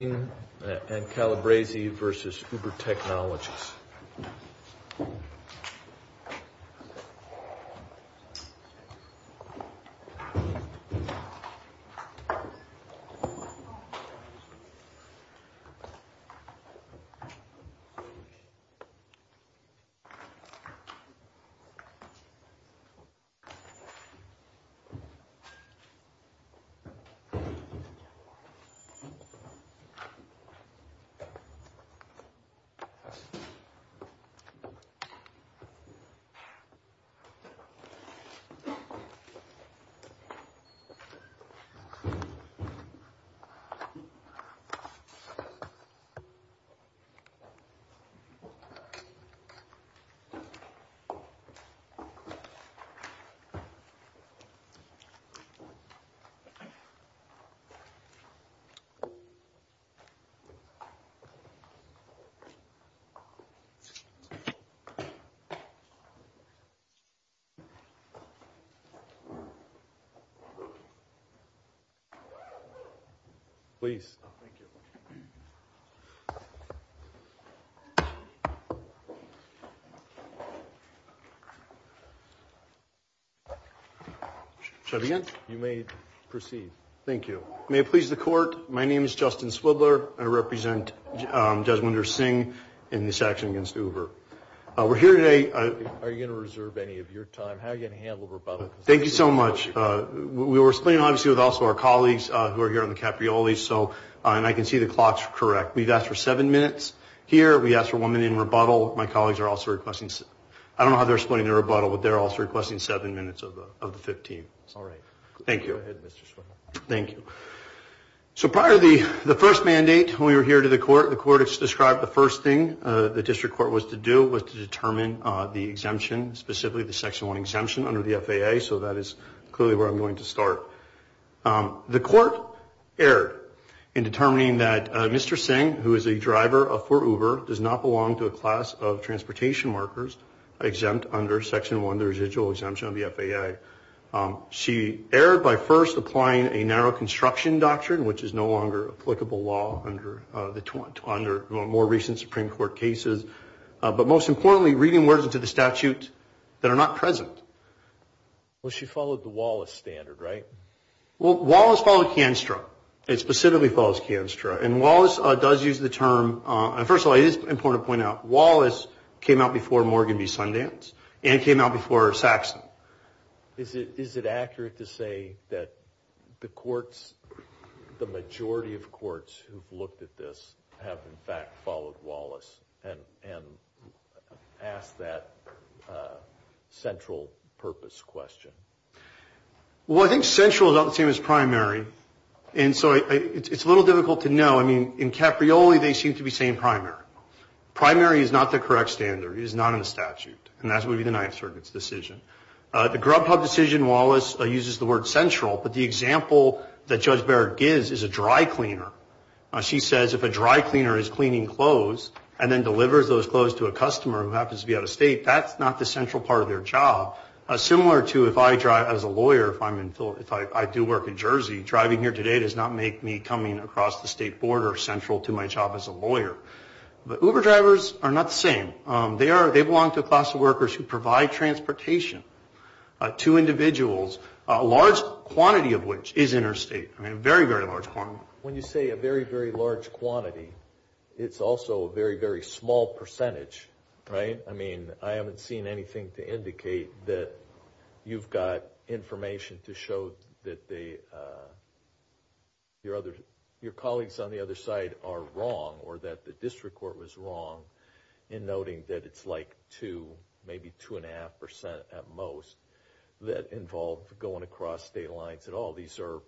and Calabrese versus Uber Technologies. If you wish to ask a question, please raise your hand. Please... Shall I begin? You may proceed. Thank you. May it please the court. My name is Justin Swibler. I represent Judge Winder Singh in this action against Uber. We're here today... Are you going to reserve any of your time? How are you going to handle rebuttal? Thank you so much. We were splitting, obviously, with also our colleagues who are here on the Capriolis, and I can see the clock's correct. We've asked for seven minutes here. We asked for one minute in rebuttal. My colleagues are also requesting... I don't know how they're splitting their rebuttal, but they're also requesting seven minutes of the 15th. All right. Thank you. Go ahead, Mr. Swibler. Thank you. So prior to the first mandate, when we were here to the court, the court has described the first thing the district court was to do was to determine the exemption, specifically the Section 1 exemption under the FAA, so that is clearly where I'm going to start. The court erred in determining that Mr. Singh, who is a driver for Uber, does not belong to a class of transportation workers exempt under Section 1, the residual exemption of the FAA. She erred by first applying a narrow construction doctrine, which is no longer applicable law under more recent Supreme Court cases, but most importantly, reading words into the statute that are not present. Well, she followed the Wallace standard, right? Well, Wallace followed Cianstra. It specifically follows Cianstra, and Wallace does use the term... First of all, it is important to point out, Wallace came out before Morgan v. Sundance and came out before Saxon. Is it accurate to say that the majority of courts who've looked at this have, in fact, followed Wallace and asked that central purpose question? Well, I think central is about the same as primary, and so it's a little difficult to know. I mean, in Caprioli, they seem to be saying primary. Primary is not the correct standard. It is not in the statute, and that would be the Ninth Circuit's decision. The Grubhub decision, Wallace uses the word central, but the example that Judge Barrett gives is a dry cleaner. She says if a dry cleaner is cleaning clothes and then delivers those clothes to a customer who happens to be out of state, that's not the central part of their job. Similar to if I drive as a lawyer, if I do work in Jersey, driving here today does not make me coming across the state border central to my job as a lawyer. But Uber drivers are not the same. They belong to a class of workers who provide transportation to individuals, a large quantity of which is interstate, a very, very large quantity. When you say a very, very large quantity, it's also a very, very small percentage, right? I mean, I haven't seen anything to indicate that you've got information to show that your colleagues on the other side are wrong or that the district court was wrong in noting that it's like two, maybe two and a half percent at most that involve going across state lines at all. These are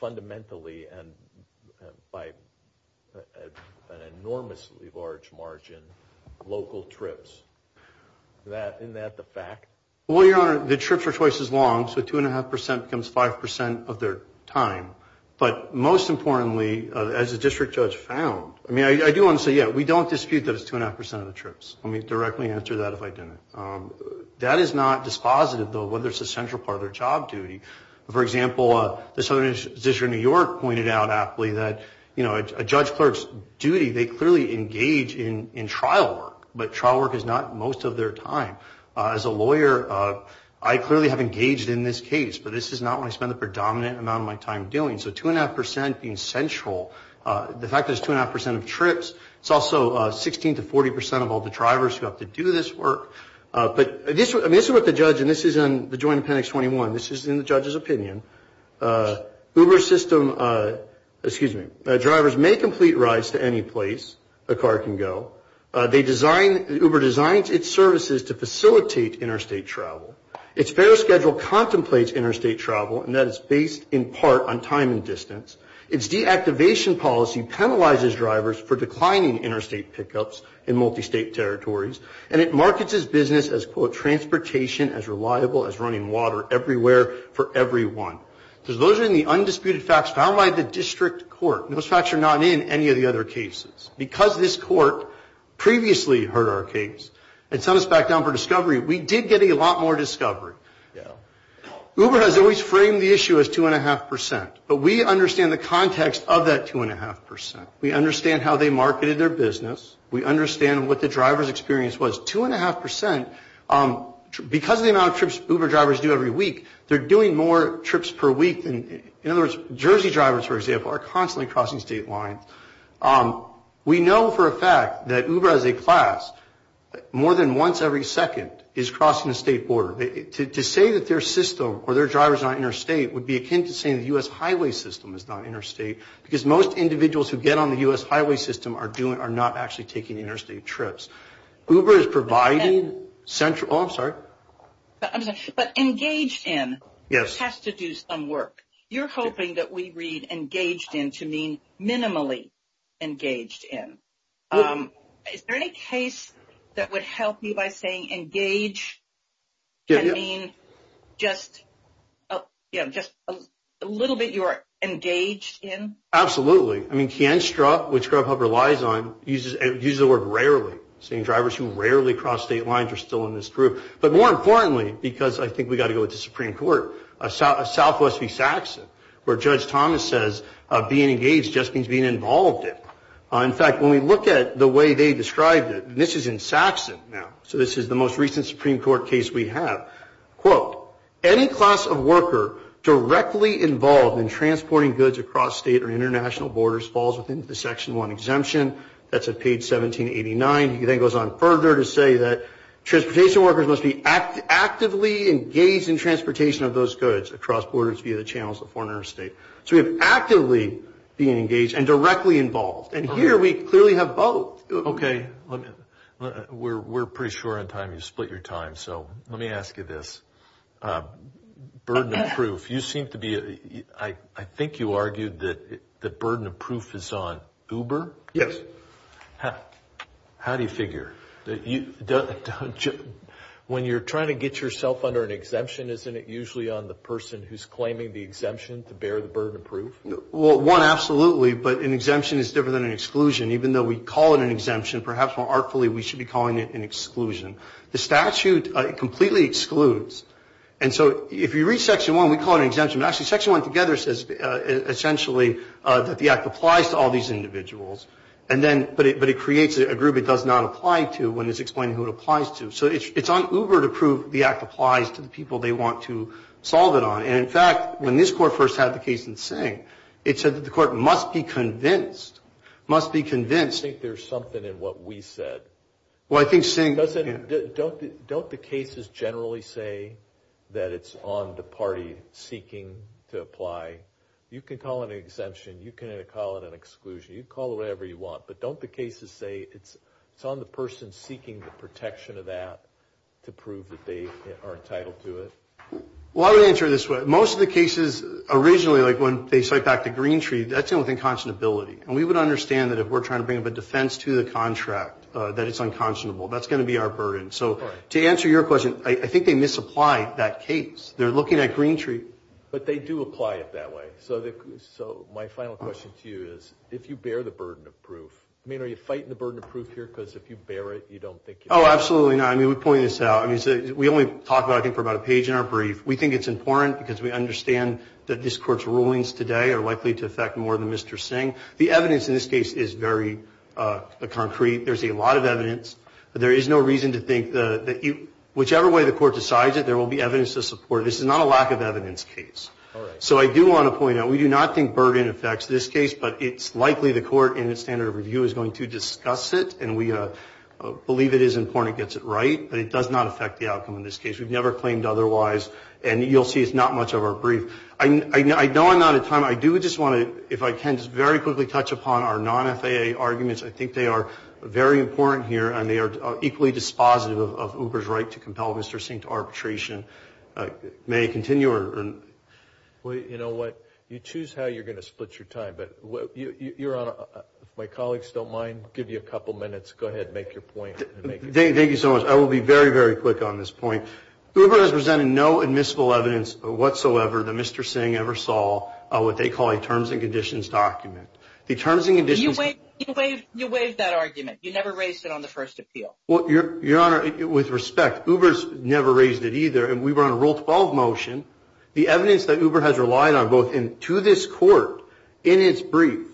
fundamentally and by an enormously large margin local trips. Isn't that the fact? Well, Your Honor, the trips are twice as long, so two and a half percent becomes five percent of their time. But most importantly, as the district judge found, I mean, I do want to say, yeah, we don't dispute that it's two and a half percent of the trips. Let me directly answer that if I didn't. That is not dispositive, though, whether it's a central part of their job duty. For example, the Southern District of New York pointed out aptly that, you know, a judge clerk's duty, they clearly engage in trial work, but trial work is not most of their time. As a lawyer, I clearly have engaged in this case, but this is not what I spend the predominant amount of my time doing. So two and a half percent being central, the fact that it's two and a half percent of trips, it's also 16 to 40 percent of all the drivers who have to do this work. But this is what the judge, and this is in the joint appendix 21, this is in the judge's opinion. Uber system, excuse me, drivers may complete rides to any place a car can go. They design, Uber designs its services to facilitate interstate travel. Its fare schedule contemplates interstate travel, and that is based in part on time and distance. Its deactivation policy penalizes drivers for declining interstate pickups in multistate territories, and it markets its business as, quote, transportation as reliable as running water everywhere for everyone. Those are the undisputed facts found by the district court. Those facts are not in any of the other cases. Because this court previously heard our case and sent us back down for discovery, we did get a lot more discovery. Uber has always framed the issue as two and a half percent, but we understand the context of that two and a half percent. We understand how they marketed their business. We understand what the driver's experience was. Two and a half percent, because of the amount of trips Uber drivers do every week, they're doing more trips per week than, in other words, Jersey drivers, for example, are constantly crossing state lines. We know for a fact that Uber, as a class, more than once every second is crossing the state border. To say that their system or their drivers are not interstate would be akin to saying the U.S. highway system is not interstate, because most individuals who get on the U.S. highway system are not actually taking interstate trips. Uber is providing central – oh, I'm sorry. But engaged in has to do some work. You're hoping that we read engaged in to mean minimally engaged in. Is there any case that would help you by saying engage can mean just a little bit you're engaged in? Absolutely. I mean, Kienstra, which Grubhub relies on, uses the word rarely, saying drivers who rarely cross state lines are still in this group. But more importantly, because I think we've got to go with the Supreme Court, Southwest v. Saxon, where Judge Thomas says being engaged just means being involved in. In fact, when we look at the way they described it, and this is in Saxon now, so this is the most recent Supreme Court case we have, quote, any class of worker directly involved in transporting goods across state or international borders falls within the Section 1 exemption. That's at page 1789. He then goes on further to say that transportation workers must be actively engaged in transportation of those goods across borders via the channels of foreign or state. So we have actively being engaged and directly involved. And here we clearly have both. Okay. We're pretty sure in time you've split your time, so let me ask you this. Burden of proof. You seem to be – I think you argued that the burden of proof is on Uber? Yes. How do you figure? When you're trying to get yourself under an exemption, isn't it usually on the person who's claiming the exemption to bear the burden of proof? Well, one, absolutely. But an exemption is different than an exclusion. Even though we call it an exemption, perhaps more artfully we should be calling it an exclusion. The statute completely excludes. And so if you read Section 1, we call it an exemption. Actually, Section 1 together says essentially that the act applies to all these individuals. But it creates a group it does not apply to when it's explaining who it applies to. So it's on Uber to prove the act applies to the people they want to solve it on. And, in fact, when this court first had the case in Singh, it said that the court must be convinced, must be convinced. I think there's something in what we said. Well, I think Singh – Don't the cases generally say that it's on the party seeking to apply? You can call it an exemption. You can call it an exclusion. You can call it whatever you want. But don't the cases say it's on the person seeking the protection of that to prove that they are entitled to it? Well, I would answer it this way. Most of the cases originally, like when they cite back the green tree, that's in with inconsonability. And we would understand that if we're trying to bring up a defense to the contract that it's unconsonable. That's going to be our burden. So to answer your question, I think they misapply that case. They're looking at green tree. But they do apply it that way. So my final question to you is, if you bear the burden of proof – I mean, are you fighting the burden of proof here because if you bear it, you don't think – Oh, absolutely not. I mean, we point this out. We only talk about it, I think, for about a page in our brief. We think it's important because we understand that this court's rulings today are likely to affect more than Mr. Singh. The evidence in this case is very concrete. There's a lot of evidence. But there is no reason to think that whichever way the court decides it, there will be evidence to support it. This is not a lack of evidence case. So I do want to point out, we do not think burden affects this case. But it's likely the court, in its standard of review, is going to discuss it. And we believe it is important it gets it right. But it does not affect the outcome in this case. We've never claimed otherwise. And you'll see it's not much of our brief. I know I'm out of time. I do just want to, if I can, just very quickly touch upon our non-FAA arguments. I think they are very important here. And they are equally dispositive of Uber's right to compel Mr. Singh to arbitration. May I continue? Well, you know what? You choose how you're going to split your time. But if my colleagues don't mind, I'll give you a couple minutes. Go ahead and make your point. Thank you so much. I will be very, very quick on this point. Uber has presented no admissible evidence whatsoever that Mr. Singh ever saw of what they call a terms and conditions document. You waived that argument. You never raised it on the first appeal. Well, Your Honor, with respect, Uber's never raised it either. And we were on a Rule 12 motion. The evidence that Uber has relied on, both to this court in its brief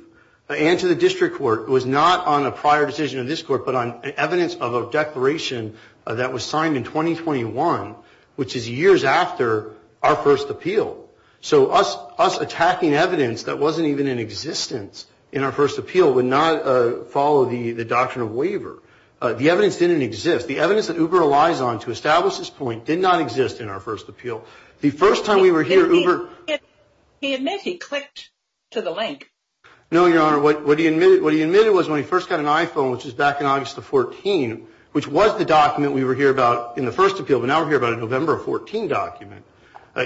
and to the district court, was not on a prior decision of this court but on evidence of a declaration that was signed in 2021, which is years after our first appeal. So us attacking evidence that wasn't even in existence in our first appeal would not follow the doctrine of waiver. The evidence didn't exist. The evidence that Uber relies on to establish this point did not exist in our first appeal. The first time we were here, Uber – He admitted he clicked to the link. No, Your Honor. What he admitted was when he first got an iPhone, which was back in August of 14, which was the document we were here about in the first appeal, but now we're here about a November 14 document.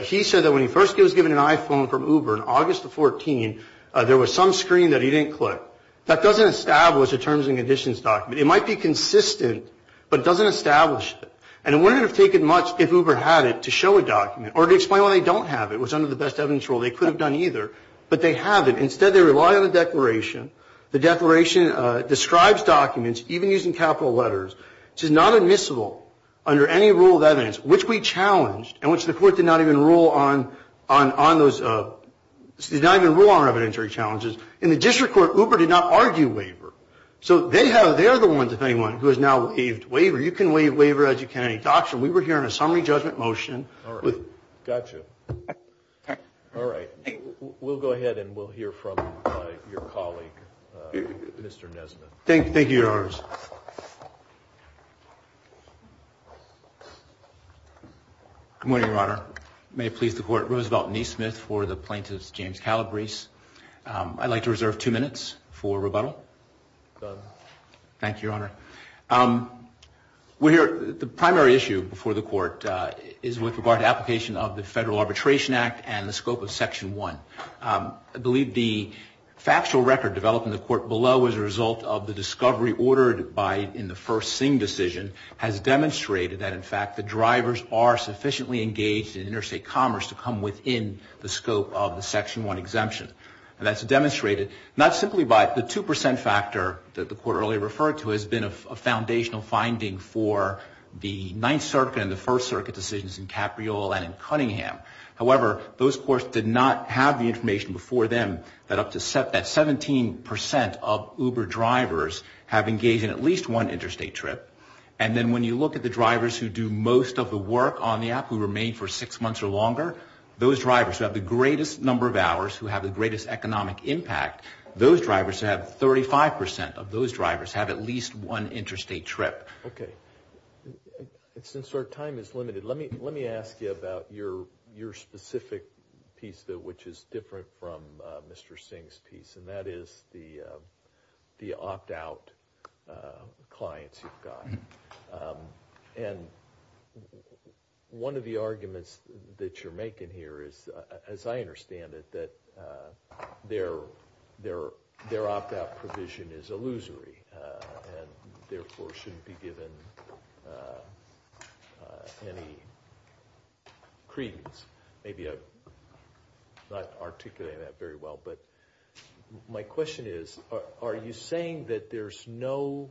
He said that when he first was given an iPhone from Uber in August of 14, there was some screen that he didn't click. That doesn't establish a terms and conditions document. It might be consistent, but it doesn't establish it. And it wouldn't have taken much if Uber had it to show a document or to explain why they don't have it was under the best evidence rule. They could have done either, but they haven't. Instead, they rely on a declaration. The declaration describes documents, even using capital letters, which is not admissible under any rule of evidence, which we challenged and which the court did not even rule on on those – did not even rule on our evidentiary challenges. In the district court, Uber did not argue waiver. So they are the ones, if anyone, who has now waived waiver. You can waive waiver as you can any doctrine. We were here on a summary judgment motion. All right. Got you. All right. We'll go ahead and we'll hear from your colleague, Mr. Nesbitt. Thank you, Your Honors. Good morning, Your Honor. May it please the Court. Roosevelt Nesmith for the plaintiff's James Calabrese. I'd like to reserve two minutes for rebuttal. Thank you, Your Honor. The primary issue before the Court is with regard to application of the Federal Arbitration Act and the scope of Section 1. I believe the factual record developed in the Court below as a result of the discovery ordered in the first Singh decision has demonstrated that, in fact, the drivers are sufficiently engaged in interstate commerce to come within the scope of the Section 1 exemption. And that's demonstrated not simply by the 2% factor that the Court earlier referred to has been a foundational finding for the Ninth Circuit and the First Circuit decisions in Capriole and in Cunningham. However, those courts did not have the information before them that 17% of Uber drivers have engaged in at least one interstate trip. And then when you look at the drivers who do most of the work on the app who remain for six months or longer, those drivers who have the greatest number of hours, who have the greatest economic impact, those drivers have 35% of those drivers have at least one interstate trip. Okay. Since our time is limited, let me ask you about your specific piece which is different from Mr. Singh's piece, and that is the opt-out clients you've got. And one of the arguments that you're making here is, as I understand it, that their opt-out provision is illusory and therefore shouldn't be given any credence. Maybe I'm not articulating that very well, but my question is are you saying that there's no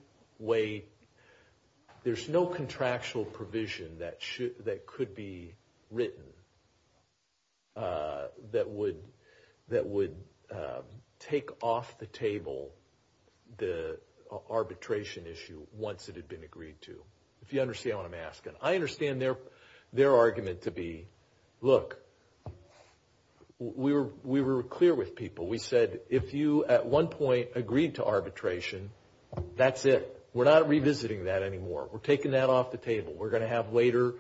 contractual provision that could be written that would take off the table the arbitration issue once it had been agreed to? If you understand what I'm asking. I understand their argument to be, look, we were clear with people. We said if you at one point agreed to arbitration, that's it. We're not revisiting that anymore. We're taking that off the table. We're going to have later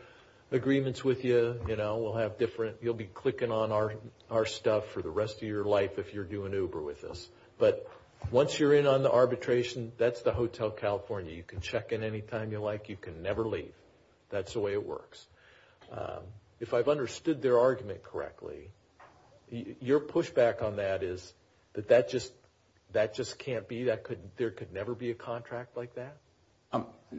agreements with you. You'll be clicking on our stuff for the rest of your life if you're doing Uber with us. But once you're in on the arbitration, that's the Hotel California. You can check in any time you like. You can never leave. That's the way it works. If I've understood their argument correctly, your pushback on that is that that just can't be. There could never be a contract like that?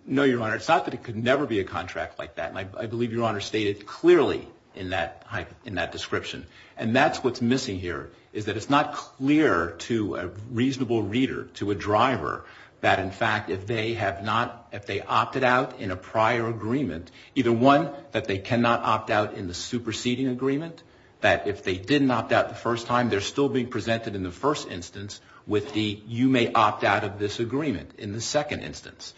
No, Your Honor. It's not that there could never be a contract like that. I believe Your Honor stated clearly in that description. And that's what's missing here is that it's not clear to a reasonable reader, to a driver, that in fact if they opted out in a prior agreement, either one, that they cannot opt out in the superseding agreement, that if they didn't opt out the first time, they're still being presented in the first instance with the you may opt out of this agreement in the second instance.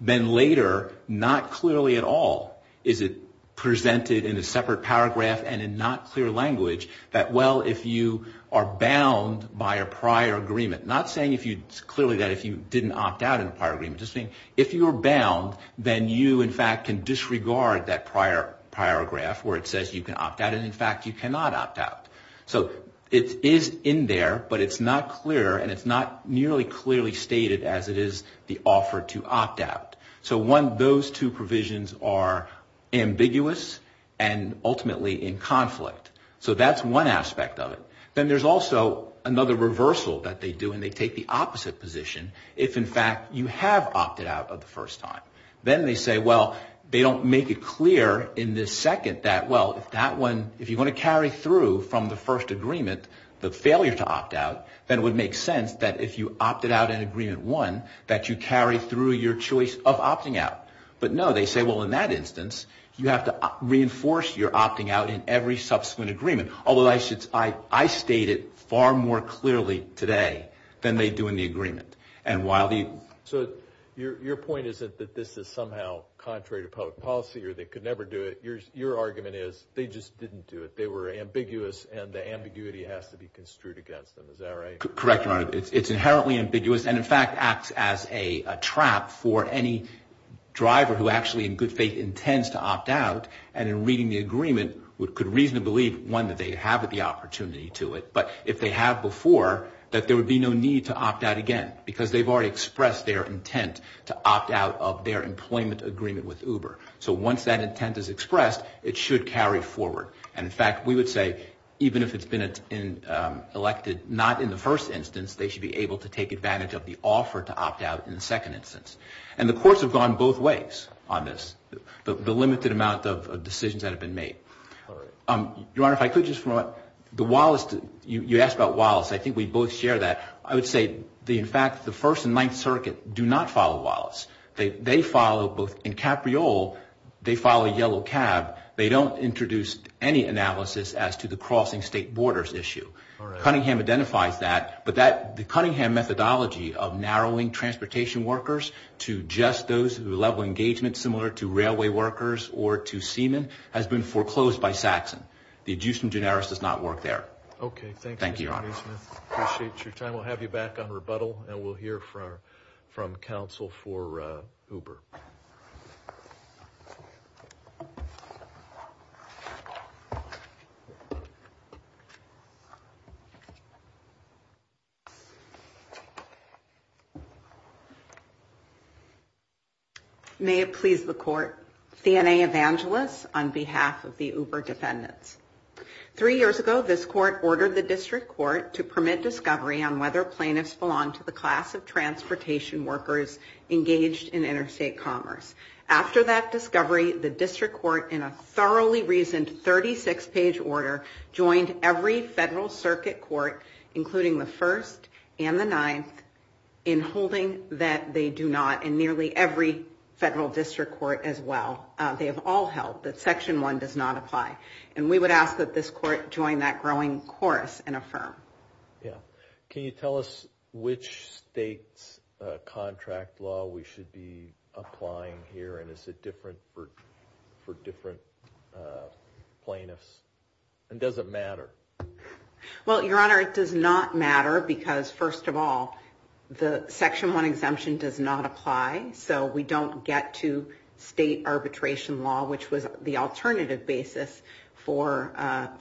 Then later, not clearly at all, is it presented in a separate paragraph and in not clear language that, well, if you are bound by a prior agreement, not saying clearly that if you didn't opt out in a prior agreement, just saying if you are bound, then you, in fact, can disregard that prior paragraph where it says you can opt out and, in fact, you cannot opt out. So it is in there, but it's not clear and it's not nearly clearly stated as it is the offer to opt out. So those two provisions are ambiguous and ultimately in conflict. So that's one aspect of it. Then there's also another reversal that they do, and they take the opposite position. If, in fact, you have opted out the first time, then they say, well, they don't make it clear in this second that, well, if that one, if you're going to carry through from the first agreement the failure to opt out, then it would make sense that if you opted out in agreement one, that you carry through your choice of opting out. But no, they say, well, in that instance, you have to reinforce your opting out in every subsequent agreement. Although I state it far more clearly today than they do in the agreement. So your point isn't that this is somehow contrary to public policy or they could never do it. Your argument is they just didn't do it. They were ambiguous, and the ambiguity has to be construed against them. Is that right? Correct, Your Honor. It's inherently ambiguous and, in fact, acts as a trap for any driver who actually in good faith intends to opt out and in reading the agreement could reasonably believe, one, that they have the opportunity to it. But if they have before, that there would be no need to opt out again because they've already expressed their intent to opt out of their employment agreement with Uber. So once that intent is expressed, it should carry forward. And, in fact, we would say even if it's been elected not in the first instance, they should be able to take advantage of the offer to opt out in the second instance. And the courts have gone both ways on this. The limited amount of decisions that have been made. Your Honor, if I could just follow up. The Wallace, you asked about Wallace. I think we both share that. I would say, in fact, the First and Ninth Circuit do not follow Wallace. They follow both. In Capriol, they follow Yellow Cab. They don't introduce any analysis as to the crossing state borders issue. Cunningham identifies that. But the Cunningham methodology of narrowing transportation workers to just those who level engagement similar to railway workers or to seamen has been foreclosed by Saxon. The adjustment generis does not work there. Thank you, Your Honor. Appreciate your time. We'll have you back on rebuttal, and we'll hear from counsel for Uber. May it please the Court. Fianna Evangelos on behalf of the Uber defendants. Three years ago, this Court ordered the District Court to permit discovery on whether plaintiffs belong to the class of transportation workers engaged in interstate commerce. After that discovery, the District Court, in a thoroughly reasoned 36-page order, joined every federal circuit court, including the First and the Ninth, in holding that they do not, and nearly every federal district court as well. They have all held that Section 1 does not apply. And we would ask that this Court join that growing chorus and affirm. Can you tell us which state's contract law we should be applying here? And is it different for different plaintiffs? And does it matter? Well, Your Honor, it does not matter because, first of all, the Section 1 exemption does not apply. So we don't get to state arbitration law, which was the alternative basis for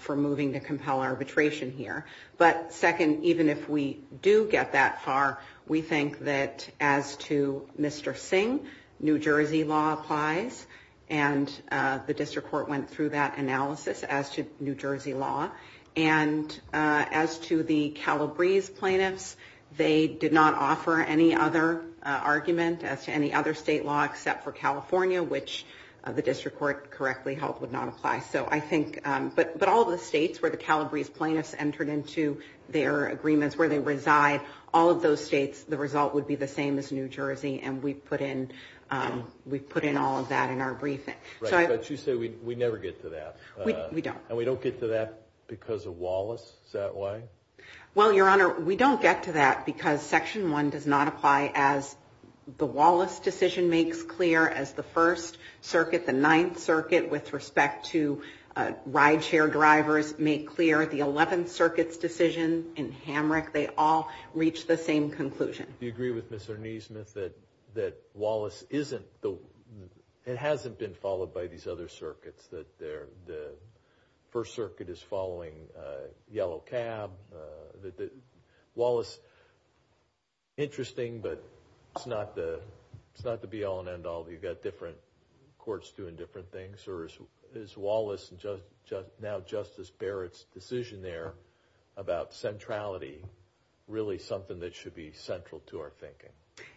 moving to compel arbitration here. But, second, even if we do get that far, we think that as to Mr. Singh, New Jersey law applies. And the District Court went through that analysis as to New Jersey law. And as to the Calabrese plaintiffs, they did not offer any other argument as to any other state law except for California, which the District Court correctly held would not apply. But all of the states where the Calabrese plaintiffs entered into their agreements, where they reside, all of those states, the result would be the same as New Jersey. And we've put in all of that in our briefing. Right, but you say we never get to that. We don't. And we don't get to that because of Wallace. Is that why? Well, Your Honor, we don't get to that because Section 1 does not apply as the Wallace decision makes clear. As the First Circuit, the Ninth Circuit, with respect to rideshare drivers, make clear. The Eleventh Circuit's decision in Hamrick, they all reach the same conclusion. Do you agree with Mr. Nesmith that Wallace hasn't been followed by these other circuits? That the First Circuit is following Yellow Cab? Wallace, interesting, but it's not the be all and end all. You've got different courts doing different things. Or is Wallace and now Justice Barrett's decision there about centrality really something that should be central to our thinking?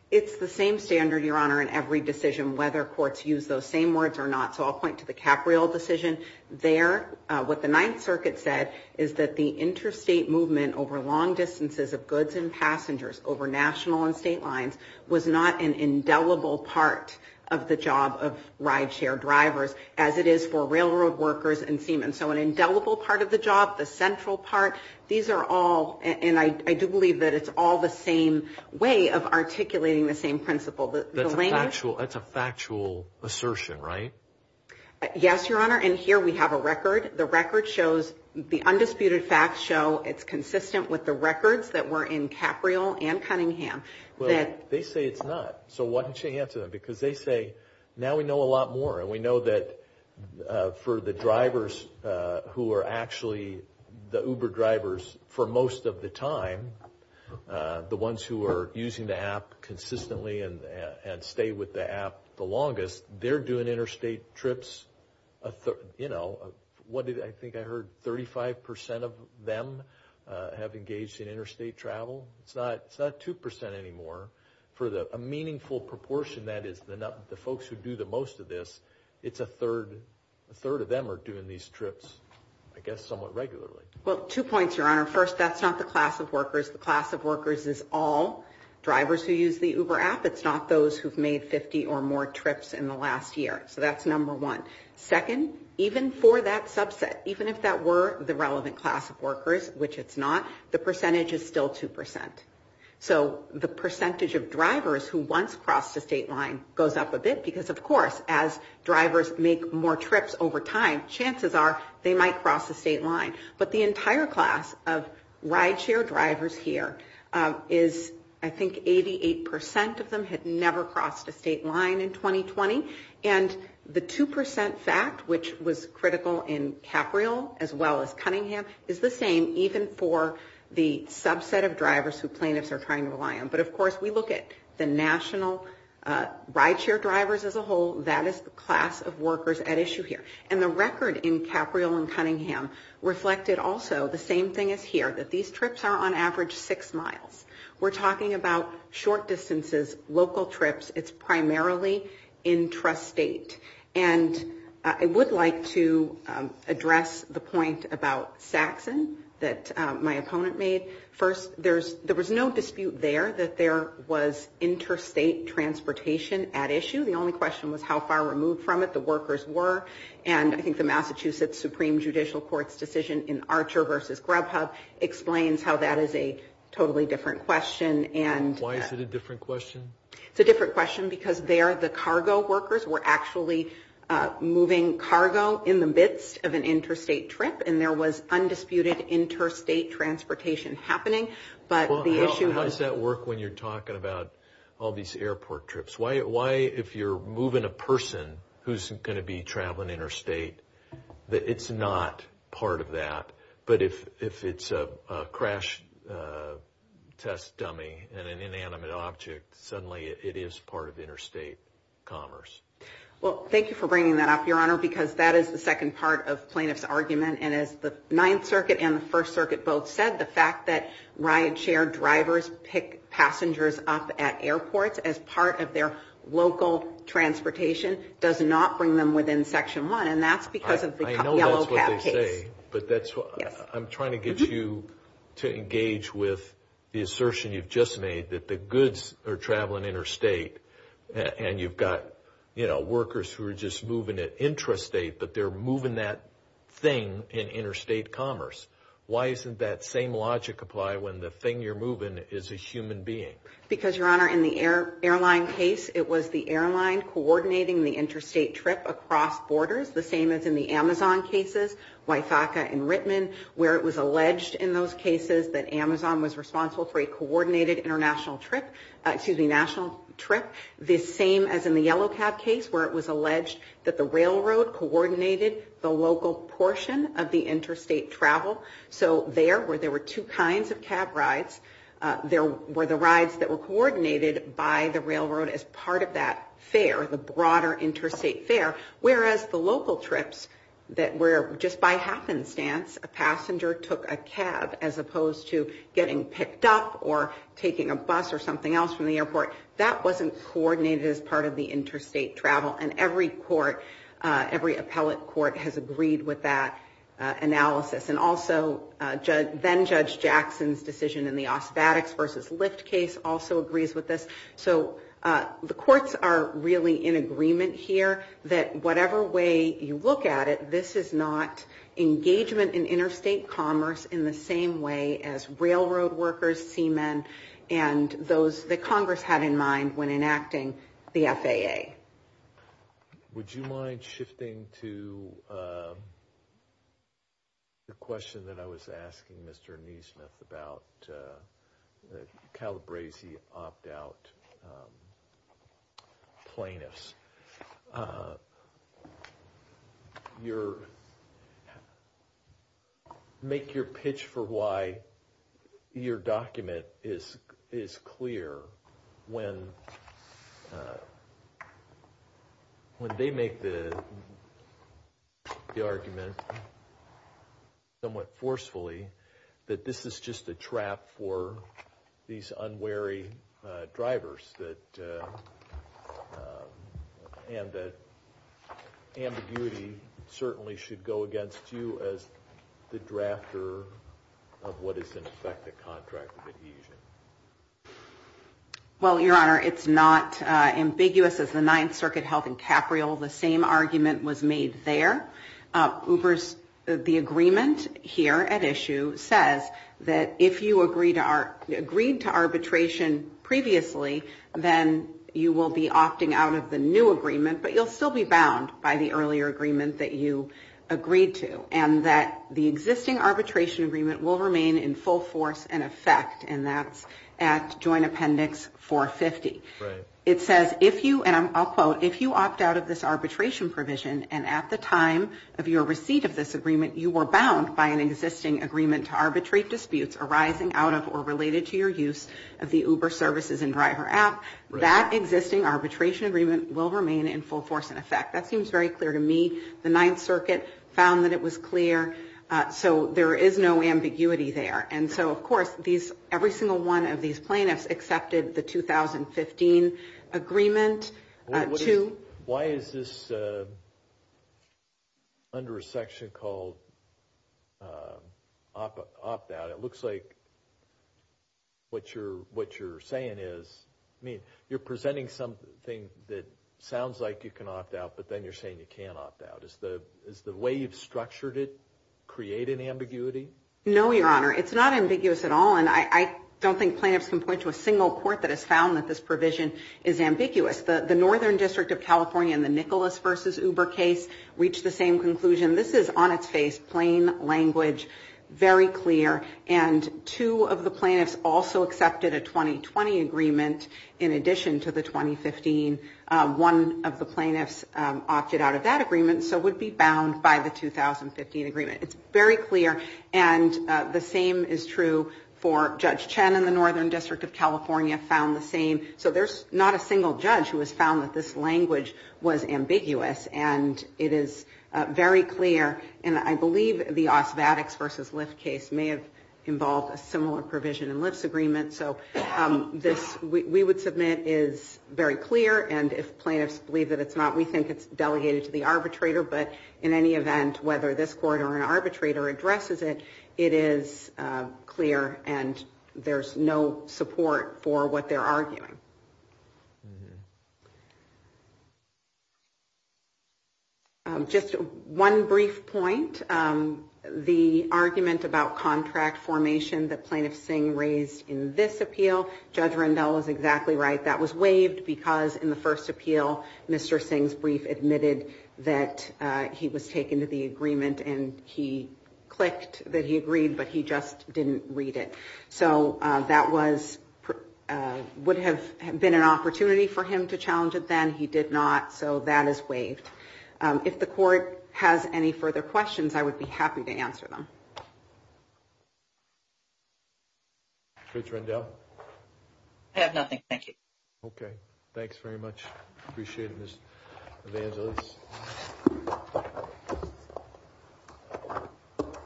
It's the same standard, Your Honor, in every decision, whether courts use those same words or not. So I'll point to the Capriol decision there. What the Ninth Circuit said is that the interstate movement over long distances of goods and passengers, over national and state lines, was not an indelible part of the job of rideshare drivers as it is for railroad workers and seamen. So an indelible part of the job, the central part, these are all, and I do believe that it's all the same way of articulating the same principle. That's a factual assertion, right? Yes, Your Honor, and here we have a record. The record shows, the undisputed facts show it's consistent with the records that were in Capriol and Cunningham. Well, they say it's not, so why don't you answer them? Because they say, now we know a lot more, and we know that for the drivers who are actually the Uber drivers for most of the time, the ones who are using the app consistently and stay with the app the longest, they're doing interstate trips, you know, what did I think I heard, 35% of them have engaged in interstate travel? It's not 2% anymore, for the meaningful proportion that is the folks who do the most of this, it's a third of them are doing these trips, I guess, somewhat regularly. Well, two points, Your Honor. First, that's not the class of workers. The class of workers is all drivers who use the Uber app. It's not those who've made 50 or more trips in the last year, so that's number one. Second, even for that subset, even if that were the relevant class of workers, which it's not, the percentage is still 2%. So the percentage of drivers who once crossed the state line goes up a bit, because, of course, as drivers make more trips over time, chances are they might cross the state line. But the entire class of rideshare drivers here is, I think, 88% of them had never crossed the state line in 2020, and the 2% fact, which was critical in Capriol, as well as Cunningham, is the same even for the subset of drivers who plaintiffs are trying to rely on. But, of course, we look at the national rideshare drivers as a whole, that is the class of workers at issue here. And the record in Capriol and Cunningham reflected also the same thing as here, that these trips are on average six miles. We're talking about short distances, local trips. It's primarily intrastate. And I would like to address the point about Saxon that my opponent made. First, there was no dispute there that there was interstate transportation at issue. The only question was how far removed from it the workers were. And I think the Massachusetts Supreme Judicial Court's decision in Archer versus Grubhub explains how that is a totally different question. Why is it a different question? It's a different question because there the cargo workers were actually moving cargo in the midst of an interstate trip, and there was undisputed interstate transportation happening, but the issue was... How does that work when you're talking about all these airport trips? Why, if you're moving a person who's going to be traveling interstate, that it's not part of that, but if it's a crash test dummy and an inanimate object, suddenly it is part of interstate commerce. Well, thank you for bringing that up, Your Honor, because that is the second part of plaintiff's argument. And as the Ninth Circuit and the First Circuit both said, the fact that rideshare drivers pick passengers up at airports as part of their local transportation does not bring them within Section 1, and that's because of the Yellow Cab case. I know that's what they say, but I'm trying to get you to engage with the assertion you've just made, that the goods are traveling interstate and you've got workers who are just moving at intrastate, but they're moving that thing in interstate commerce. Why doesn't that same logic apply when the thing you're moving is a human being? Because, Your Honor, in the airline case, it was the airline coordinating the interstate trip across borders. The same as in the Amazon cases, WIFACA and Rittman, where it was alleged in those cases that Amazon was responsible for a coordinated national trip. The same as in the Yellow Cab case, where it was alleged that the railroad coordinated the local portion of the interstate travel. So there, where there were two kinds of cab rides, there were the rides that were coordinated by the railroad as part of that fare, the broader interstate fare, whereas the local trips that were just by happenstance, a passenger took a cab, as opposed to getting picked up or taking a bus or something else from the airport, that wasn't coordinated as part of the interstate travel. And every court, every appellate court, has agreed with that analysis. And also, then-Judge Jackson's decision in the Auspatics v. Lyft case also agrees with this. So the courts are really in agreement here that whatever way you look at it, this is not engagement in interstate commerce in the same way as railroad workers, seamen, and those that Congress had in mind when enacting the FAA. Would you mind shifting to the question that I was asking Mr. Nesmith about Calabresi opt-out plaintiffs? Your, make your pitch for why your document is clear when they make the argument somewhat forcefully that this is just a trap for these unwary drivers and that ambiguity certainly should go against you as the drafter of what is in effect a contract of adhesion. Well, Your Honor, it's not ambiguous as the Ninth Circuit held in Capriol. The same argument was made there. The agreement here at issue says that if you agreed to arbitration previously, then you will be opting out of the new agreement, but you'll still be bound by the earlier agreement that you agreed to. And that the existing arbitration agreement will remain in full force and effect, and that's at Joint Appendix 450. It says if you, and I'll quote, if you opt out of this arbitration provision and at the time of your receipt of this agreement, you were bound by an existing agreement to arbitrate disputes arising out of or related to your use of the Uber services and driver app, that existing arbitration agreement will remain in full force and effect. That seems very clear to me. The Ninth Circuit found that it was clear, so there is no ambiguity there. And so, of course, every single one of these plaintiffs accepted the 2015 agreement. Why is this under a section called opt out? It looks like what you're saying is, I mean, you're presenting something that sounds like you can opt out, but then you're saying you can't opt out. Is the way you've structured it creating ambiguity? No, Your Honor. It's not ambiguous at all, and I don't think plaintiffs can point to a single court that has found that this provision is ambiguous. The Northern District of California in the Nicholas v. Uber case reached the same conclusion. This is on its face, plain language, very clear. And two of the plaintiffs also accepted a 2020 agreement in addition to the 2015. One of the plaintiffs opted out of that agreement, so would be bound by the 2015 agreement. It's very clear, and the same is true for Judge Chen in the Northern District of California found the same. So there's not a single judge who has found that this language was ambiguous, and it is very clear. And I believe the Osvadics v. Lyft case may have involved a similar provision in Lyft's agreement. So this, we would submit, is very clear, and if plaintiffs believe that it's not, we think it's delegated to the arbitrator. But in any event, whether this court or an arbitrator addresses it, it is clear, and there's no support for what they're arguing. Just one brief point. The argument about contract formation that Plaintiff Singh raised in this appeal, Judge Rendell is exactly right. That was waived because in the first appeal, Mr. Singh's brief admitted that he was taken to the agreement, and he clicked that he agreed, but he just didn't read it. So that would have been an opportunity for him to challenge it then. He did not, so that is waived. If the court has any further questions, I would be happy to answer them. Judge Rendell? I have nothing. Thank you. Okay. Thanks very much. Appreciate it, Ms. Evangelos.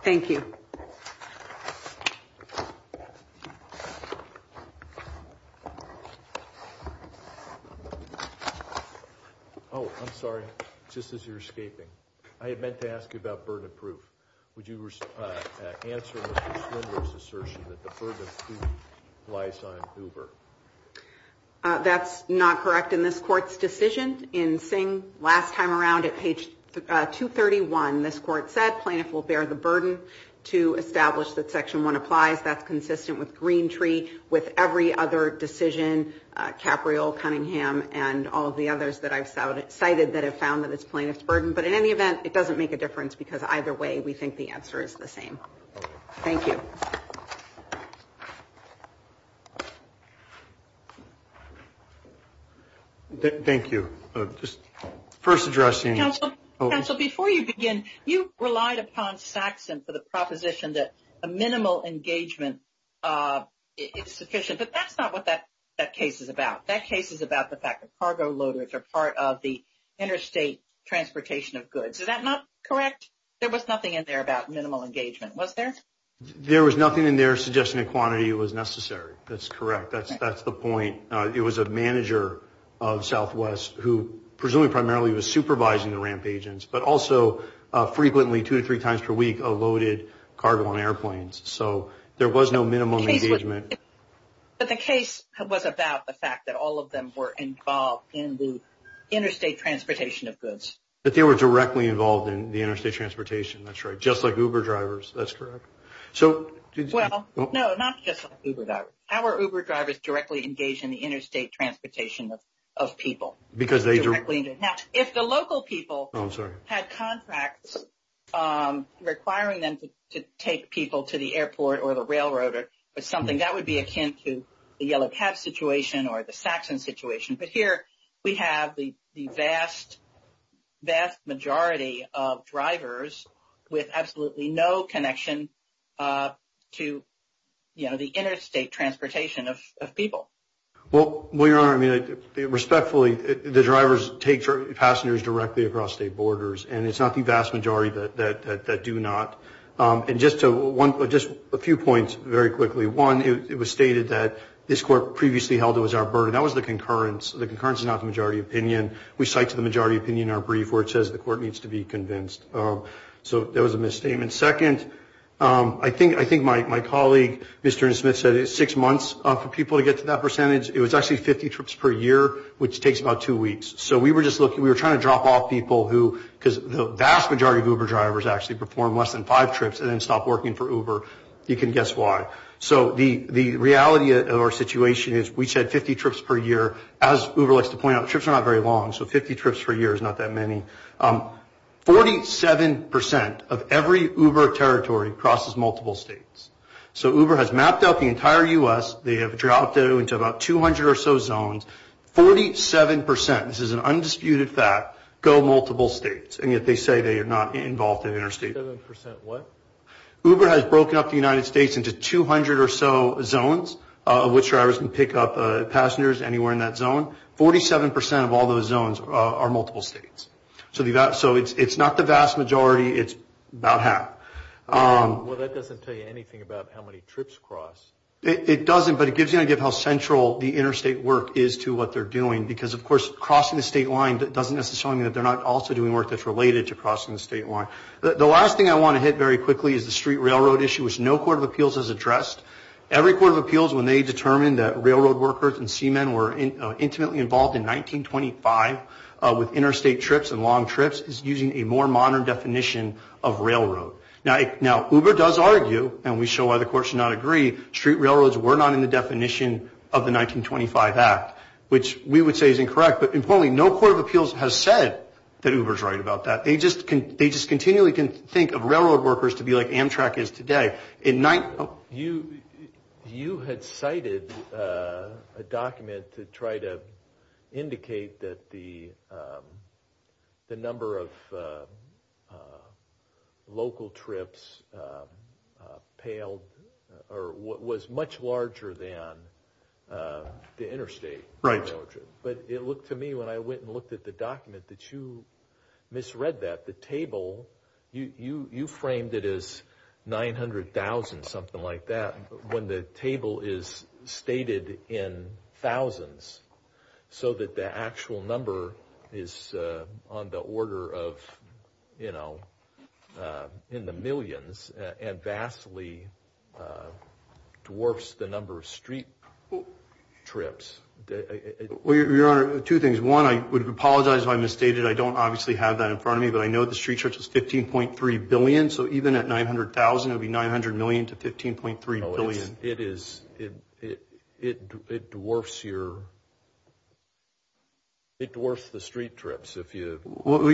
Thank you. Oh, I'm sorry. Just as you're escaping, I had meant to ask you about burden of proof. Would you answer Mr. Slender's assertion that the burden of proof lies on Hoover? That's not correct in this Court's decision. In Singh, last time around at page 231, this Court said Plaintiff will bear the burden to establish that Section 1 applies. That's consistent with Greentree, with every other decision, Capriol, Cunningham, and all the others that I've cited that have found that it's Plaintiff's burden. But in any event, it doesn't make a difference because either way, we think the answer is the same. Thank you. Thank you. Just first addressing. Counsel, before you begin, you relied upon Saxon for the proposition that a minimal engagement is sufficient. But that's not what that case is about. That case is about the fact that cargo loaders are part of the interstate transportation of goods. Is that not correct? There was nothing in there about minimal engagement, was there? There was nothing in there suggesting a quantity that was necessary. That's correct. That's the point. It was a manager of Southwest who presumably primarily was supervising the ramp agents, but also frequently two to three times per week loaded cargo on airplanes. So there was no minimum engagement. But the case was about the fact that all of them were involved in the interstate transportation of goods. But they were directly involved in the interstate transportation. That's right. Just like Uber drivers. That's correct. Well, no, not just Uber drivers. Our Uber drivers directly engaged in the interstate transportation of people. Because they directly engaged. Now, if the local people had contracts requiring them to take people to the airport or the railroad or something, that would be akin to the Yellow Cab situation or the Saxon situation. But here we have the vast, vast majority of drivers with absolutely no connection to, you know, the interstate transportation of people. Well, Your Honor, I mean, respectfully, the drivers take passengers directly across state borders. And it's not the vast majority that do not. And just a few points very quickly. One, it was stated that this court previously held it was our burden. That was the concurrence. The concurrence is not the majority opinion. We cite to the majority opinion in our brief where it says the court needs to be convinced. So that was a misstatement. Second, I think my colleague, Mr. Smith, said it's six months for people to get to that percentage. It was actually 50 trips per year, which takes about two weeks. So we were just looking, we were trying to drop off people who, because the vast majority of Uber drivers actually perform less than five trips and then stop working for Uber. You can guess why. So the reality of our situation is we said 50 trips per year. As Uber likes to point out, trips are not very long. So 50 trips per year is not that many. Forty-seven percent of every Uber territory crosses multiple states. So Uber has mapped out the entire U.S. They have dropped it into about 200 or so zones. Forty-seven percent, this is an undisputed fact, go multiple states. And yet they say they are not involved in interstate. Forty-seven percent what? Uber has broken up the United States into 200 or so zones, which drivers can pick up passengers anywhere in that zone. Forty-seven percent of all those zones are multiple states. So it's not the vast majority. It's about half. Well, that doesn't tell you anything about how many trips cross. It doesn't, but it gives you an idea of how central the interstate work is to what they're doing. Because, of course, crossing the state line doesn't necessarily mean that they're not also doing work that's related to crossing the state line. The last thing I want to hit very quickly is the street railroad issue, which no court of appeals has addressed. Every court of appeals, when they determine that railroad workers and seamen were intimately involved in 1925 with interstate trips and long trips, is using a more modern definition of railroad. Now, Uber does argue, and we show why the courts do not agree, street railroads were not in the definition of the 1925 Act, which we would say is incorrect. But, importantly, no court of appeals has said that Uber is right about that. They just continually can think of railroad workers to be like Amtrak is today. You had cited a document to try to indicate that the number of local trips was much larger than the interstate railroad trips. But it looked to me, when I went and looked at the document, that you misread that. You framed it as 900,000, something like that, when the table is stated in thousands, so that the actual number is in the millions and vastly dwarfs the number of street trips. Your Honor, two things. One, I would apologize if I misstated. I don't obviously have that in front of me, but I know the street trips is 15.3 billion, so even at 900,000, it would be 900 million to 15.3 billion. It dwarfs the street trips. Your Honor,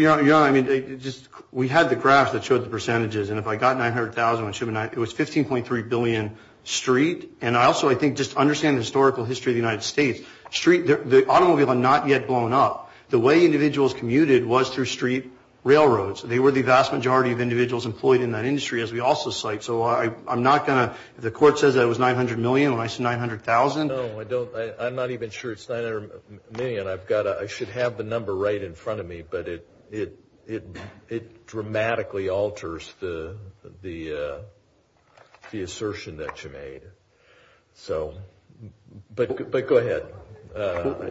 we had the graphs that showed the percentages, and if I got 900,000, it was 15.3 billion street. And also, I think, just to understand the historical history of the United States, the automobiles are not yet blown up. The way individuals commuted was through street railroads. They were the vast majority of individuals employed in that industry, as we also cite. So I'm not going to, if the court says that it was 900 million when I said 900,000. No, I don't. I'm not even sure it's 900 million. I've got to, I should have the number right in front of me, but it dramatically alters the assertion that you made. So, but go ahead.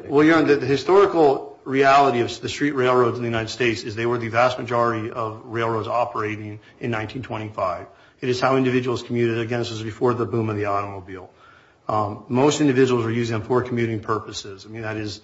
Well, Your Honor, the historical reality of the street railroads in the United States is they were the vast majority of railroads operating in 1925. It is how individuals commuted, again, this was before the boom of the automobile. Most individuals were using them for commuting purposes. I mean, that is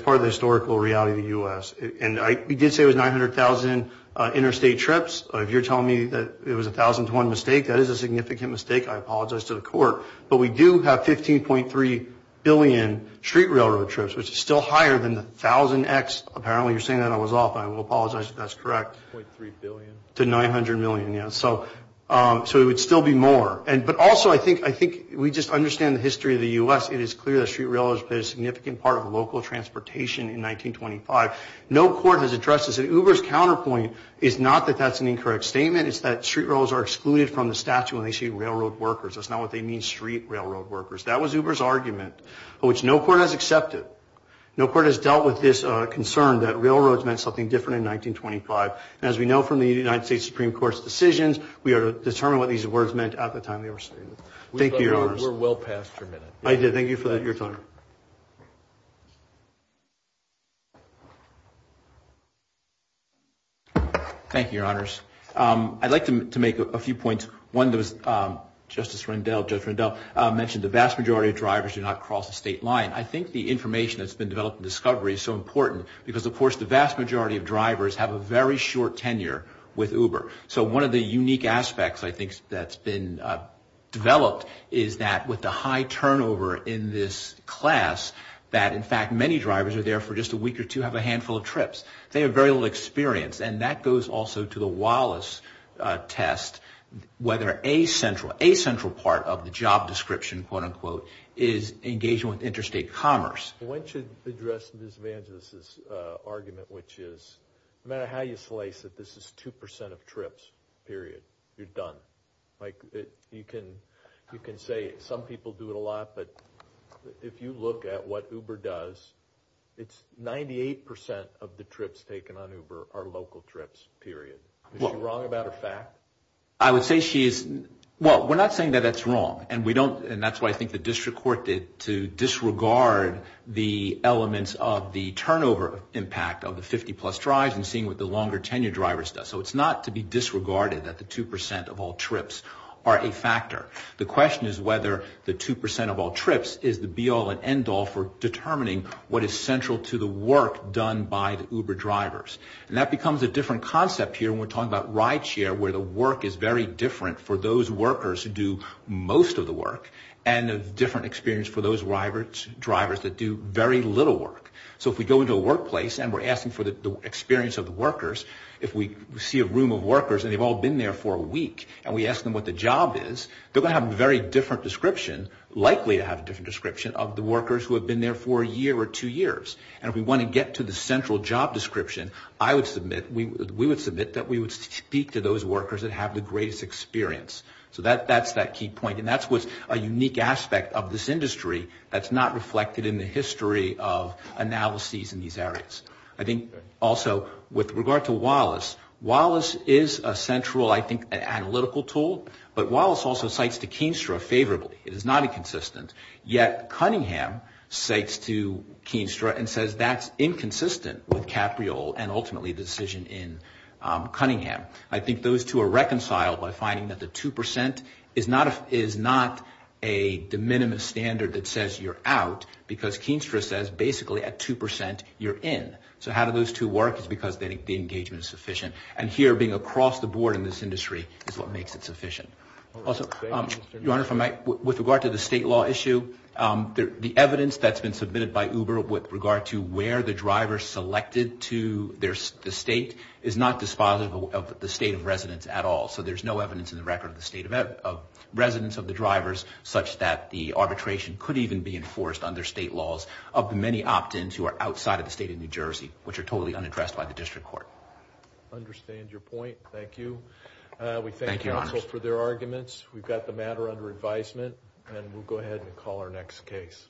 part of the historical reality of the U.S. And we did say it was 900,000 interstate trips. If you're telling me that it was a thousand to one mistake, that is a significant mistake. I apologize to the court. But we do have 15.3 billion street railroad trips, which is still higher than the thousand X. Apparently, you're saying that I was off. I will apologize if that's correct. 0.3 billion. To 900 million, yeah. So it would still be more. But also, I think we just understand the history of the U.S. It is clear that street railroads played a significant part of local transportation in 1925. No court has addressed this. And Uber's counterpoint is not that that's an incorrect statement. It's that street railroads are excluded from the statute when they say railroad workers. That's not what they mean, street railroad workers. That was Uber's argument, which no court has accepted. No court has dealt with this concern that railroads meant something different in 1925. And as we know from the United States Supreme Court's decisions, we are determined what these words meant at the time they were stated. Thank you, Your Honors. We're well past your minute. I did. Thank you for your time. Thank you, Your Honors. I'd like to make a few points. One, Justice Rendell mentioned the vast majority of drivers do not cross the state line. I think the information that's been developed and discovery is so important because, of course, the vast majority of drivers have a very short tenure with Uber. So one of the unique aspects, I think, that's been developed is that with the high turnover in this class, that in fact many drivers are there for just a week or two, have a handful of trips. They have very little experience. And that goes also to the Wallace test, whether a central part of the job description, quote-unquote, is engaging with interstate commerce. I want you to address Ms. Vangelis' argument, which is no matter how you slice it, this is 2% of trips, period. You're done. You can say some people do it a lot, but if you look at what Uber does, it's 98% of the trips taken on Uber are local trips, period. Is she wrong about her fact? I would say she is. Well, we're not saying that that's wrong. And that's why I think the district court did to disregard the elements of the turnover impact of the 50-plus drives and seeing what the longer tenure drivers does. So it's not to be disregarded that the 2% of all trips are a factor. The question is whether the 2% of all trips is the be-all and end-all for determining what is central to the work done by the Uber drivers. And that becomes a different concept here when we're talking about ride share, where the work is very different for those workers who do most of the work and a different experience for those drivers that do very little work. So if we go into a workplace and we're asking for the experience of the workers, if we see a room of workers and they've all been there for a week and we ask them what the job is, they're going to have a very different description, likely to have a different description, of the workers who have been there for a year or two years. And if we want to get to the central job description, I would submit, we would submit that we would speak to those workers that have the greatest experience. So that's that key point, and that's what's a unique aspect of this industry that's not reflected in the history of analyses in these areas. I think also with regard to Wallace, Wallace is a central, I think, analytical tool, but Wallace also cites to Keenstra favorably. It is not inconsistent. Yet Cunningham cites to Keenstra and says that's inconsistent with Capriol and ultimately the decision in Cunningham. I think those two are reconciled by finding that the 2% is not a de minimis standard that says you're out because Keenstra says basically at 2% you're in. So how do those two work is because the engagement is sufficient. And here being across the board in this industry is what makes it sufficient. Also, Your Honor, with regard to the state law issue, the evidence that's been submitted by Uber with regard to where the driver selected to the state is not dispositive of the state of residence at all. So there's no evidence in the record of the state of residence of the drivers such that the arbitration could even be enforced under state laws of the many opt-ins who are outside of the state of New Jersey, which are totally unaddressed by the district court. I understand your point. Thank you. We thank counsel for their arguments. We've got the matter under advisement, and we'll go ahead and call our next case.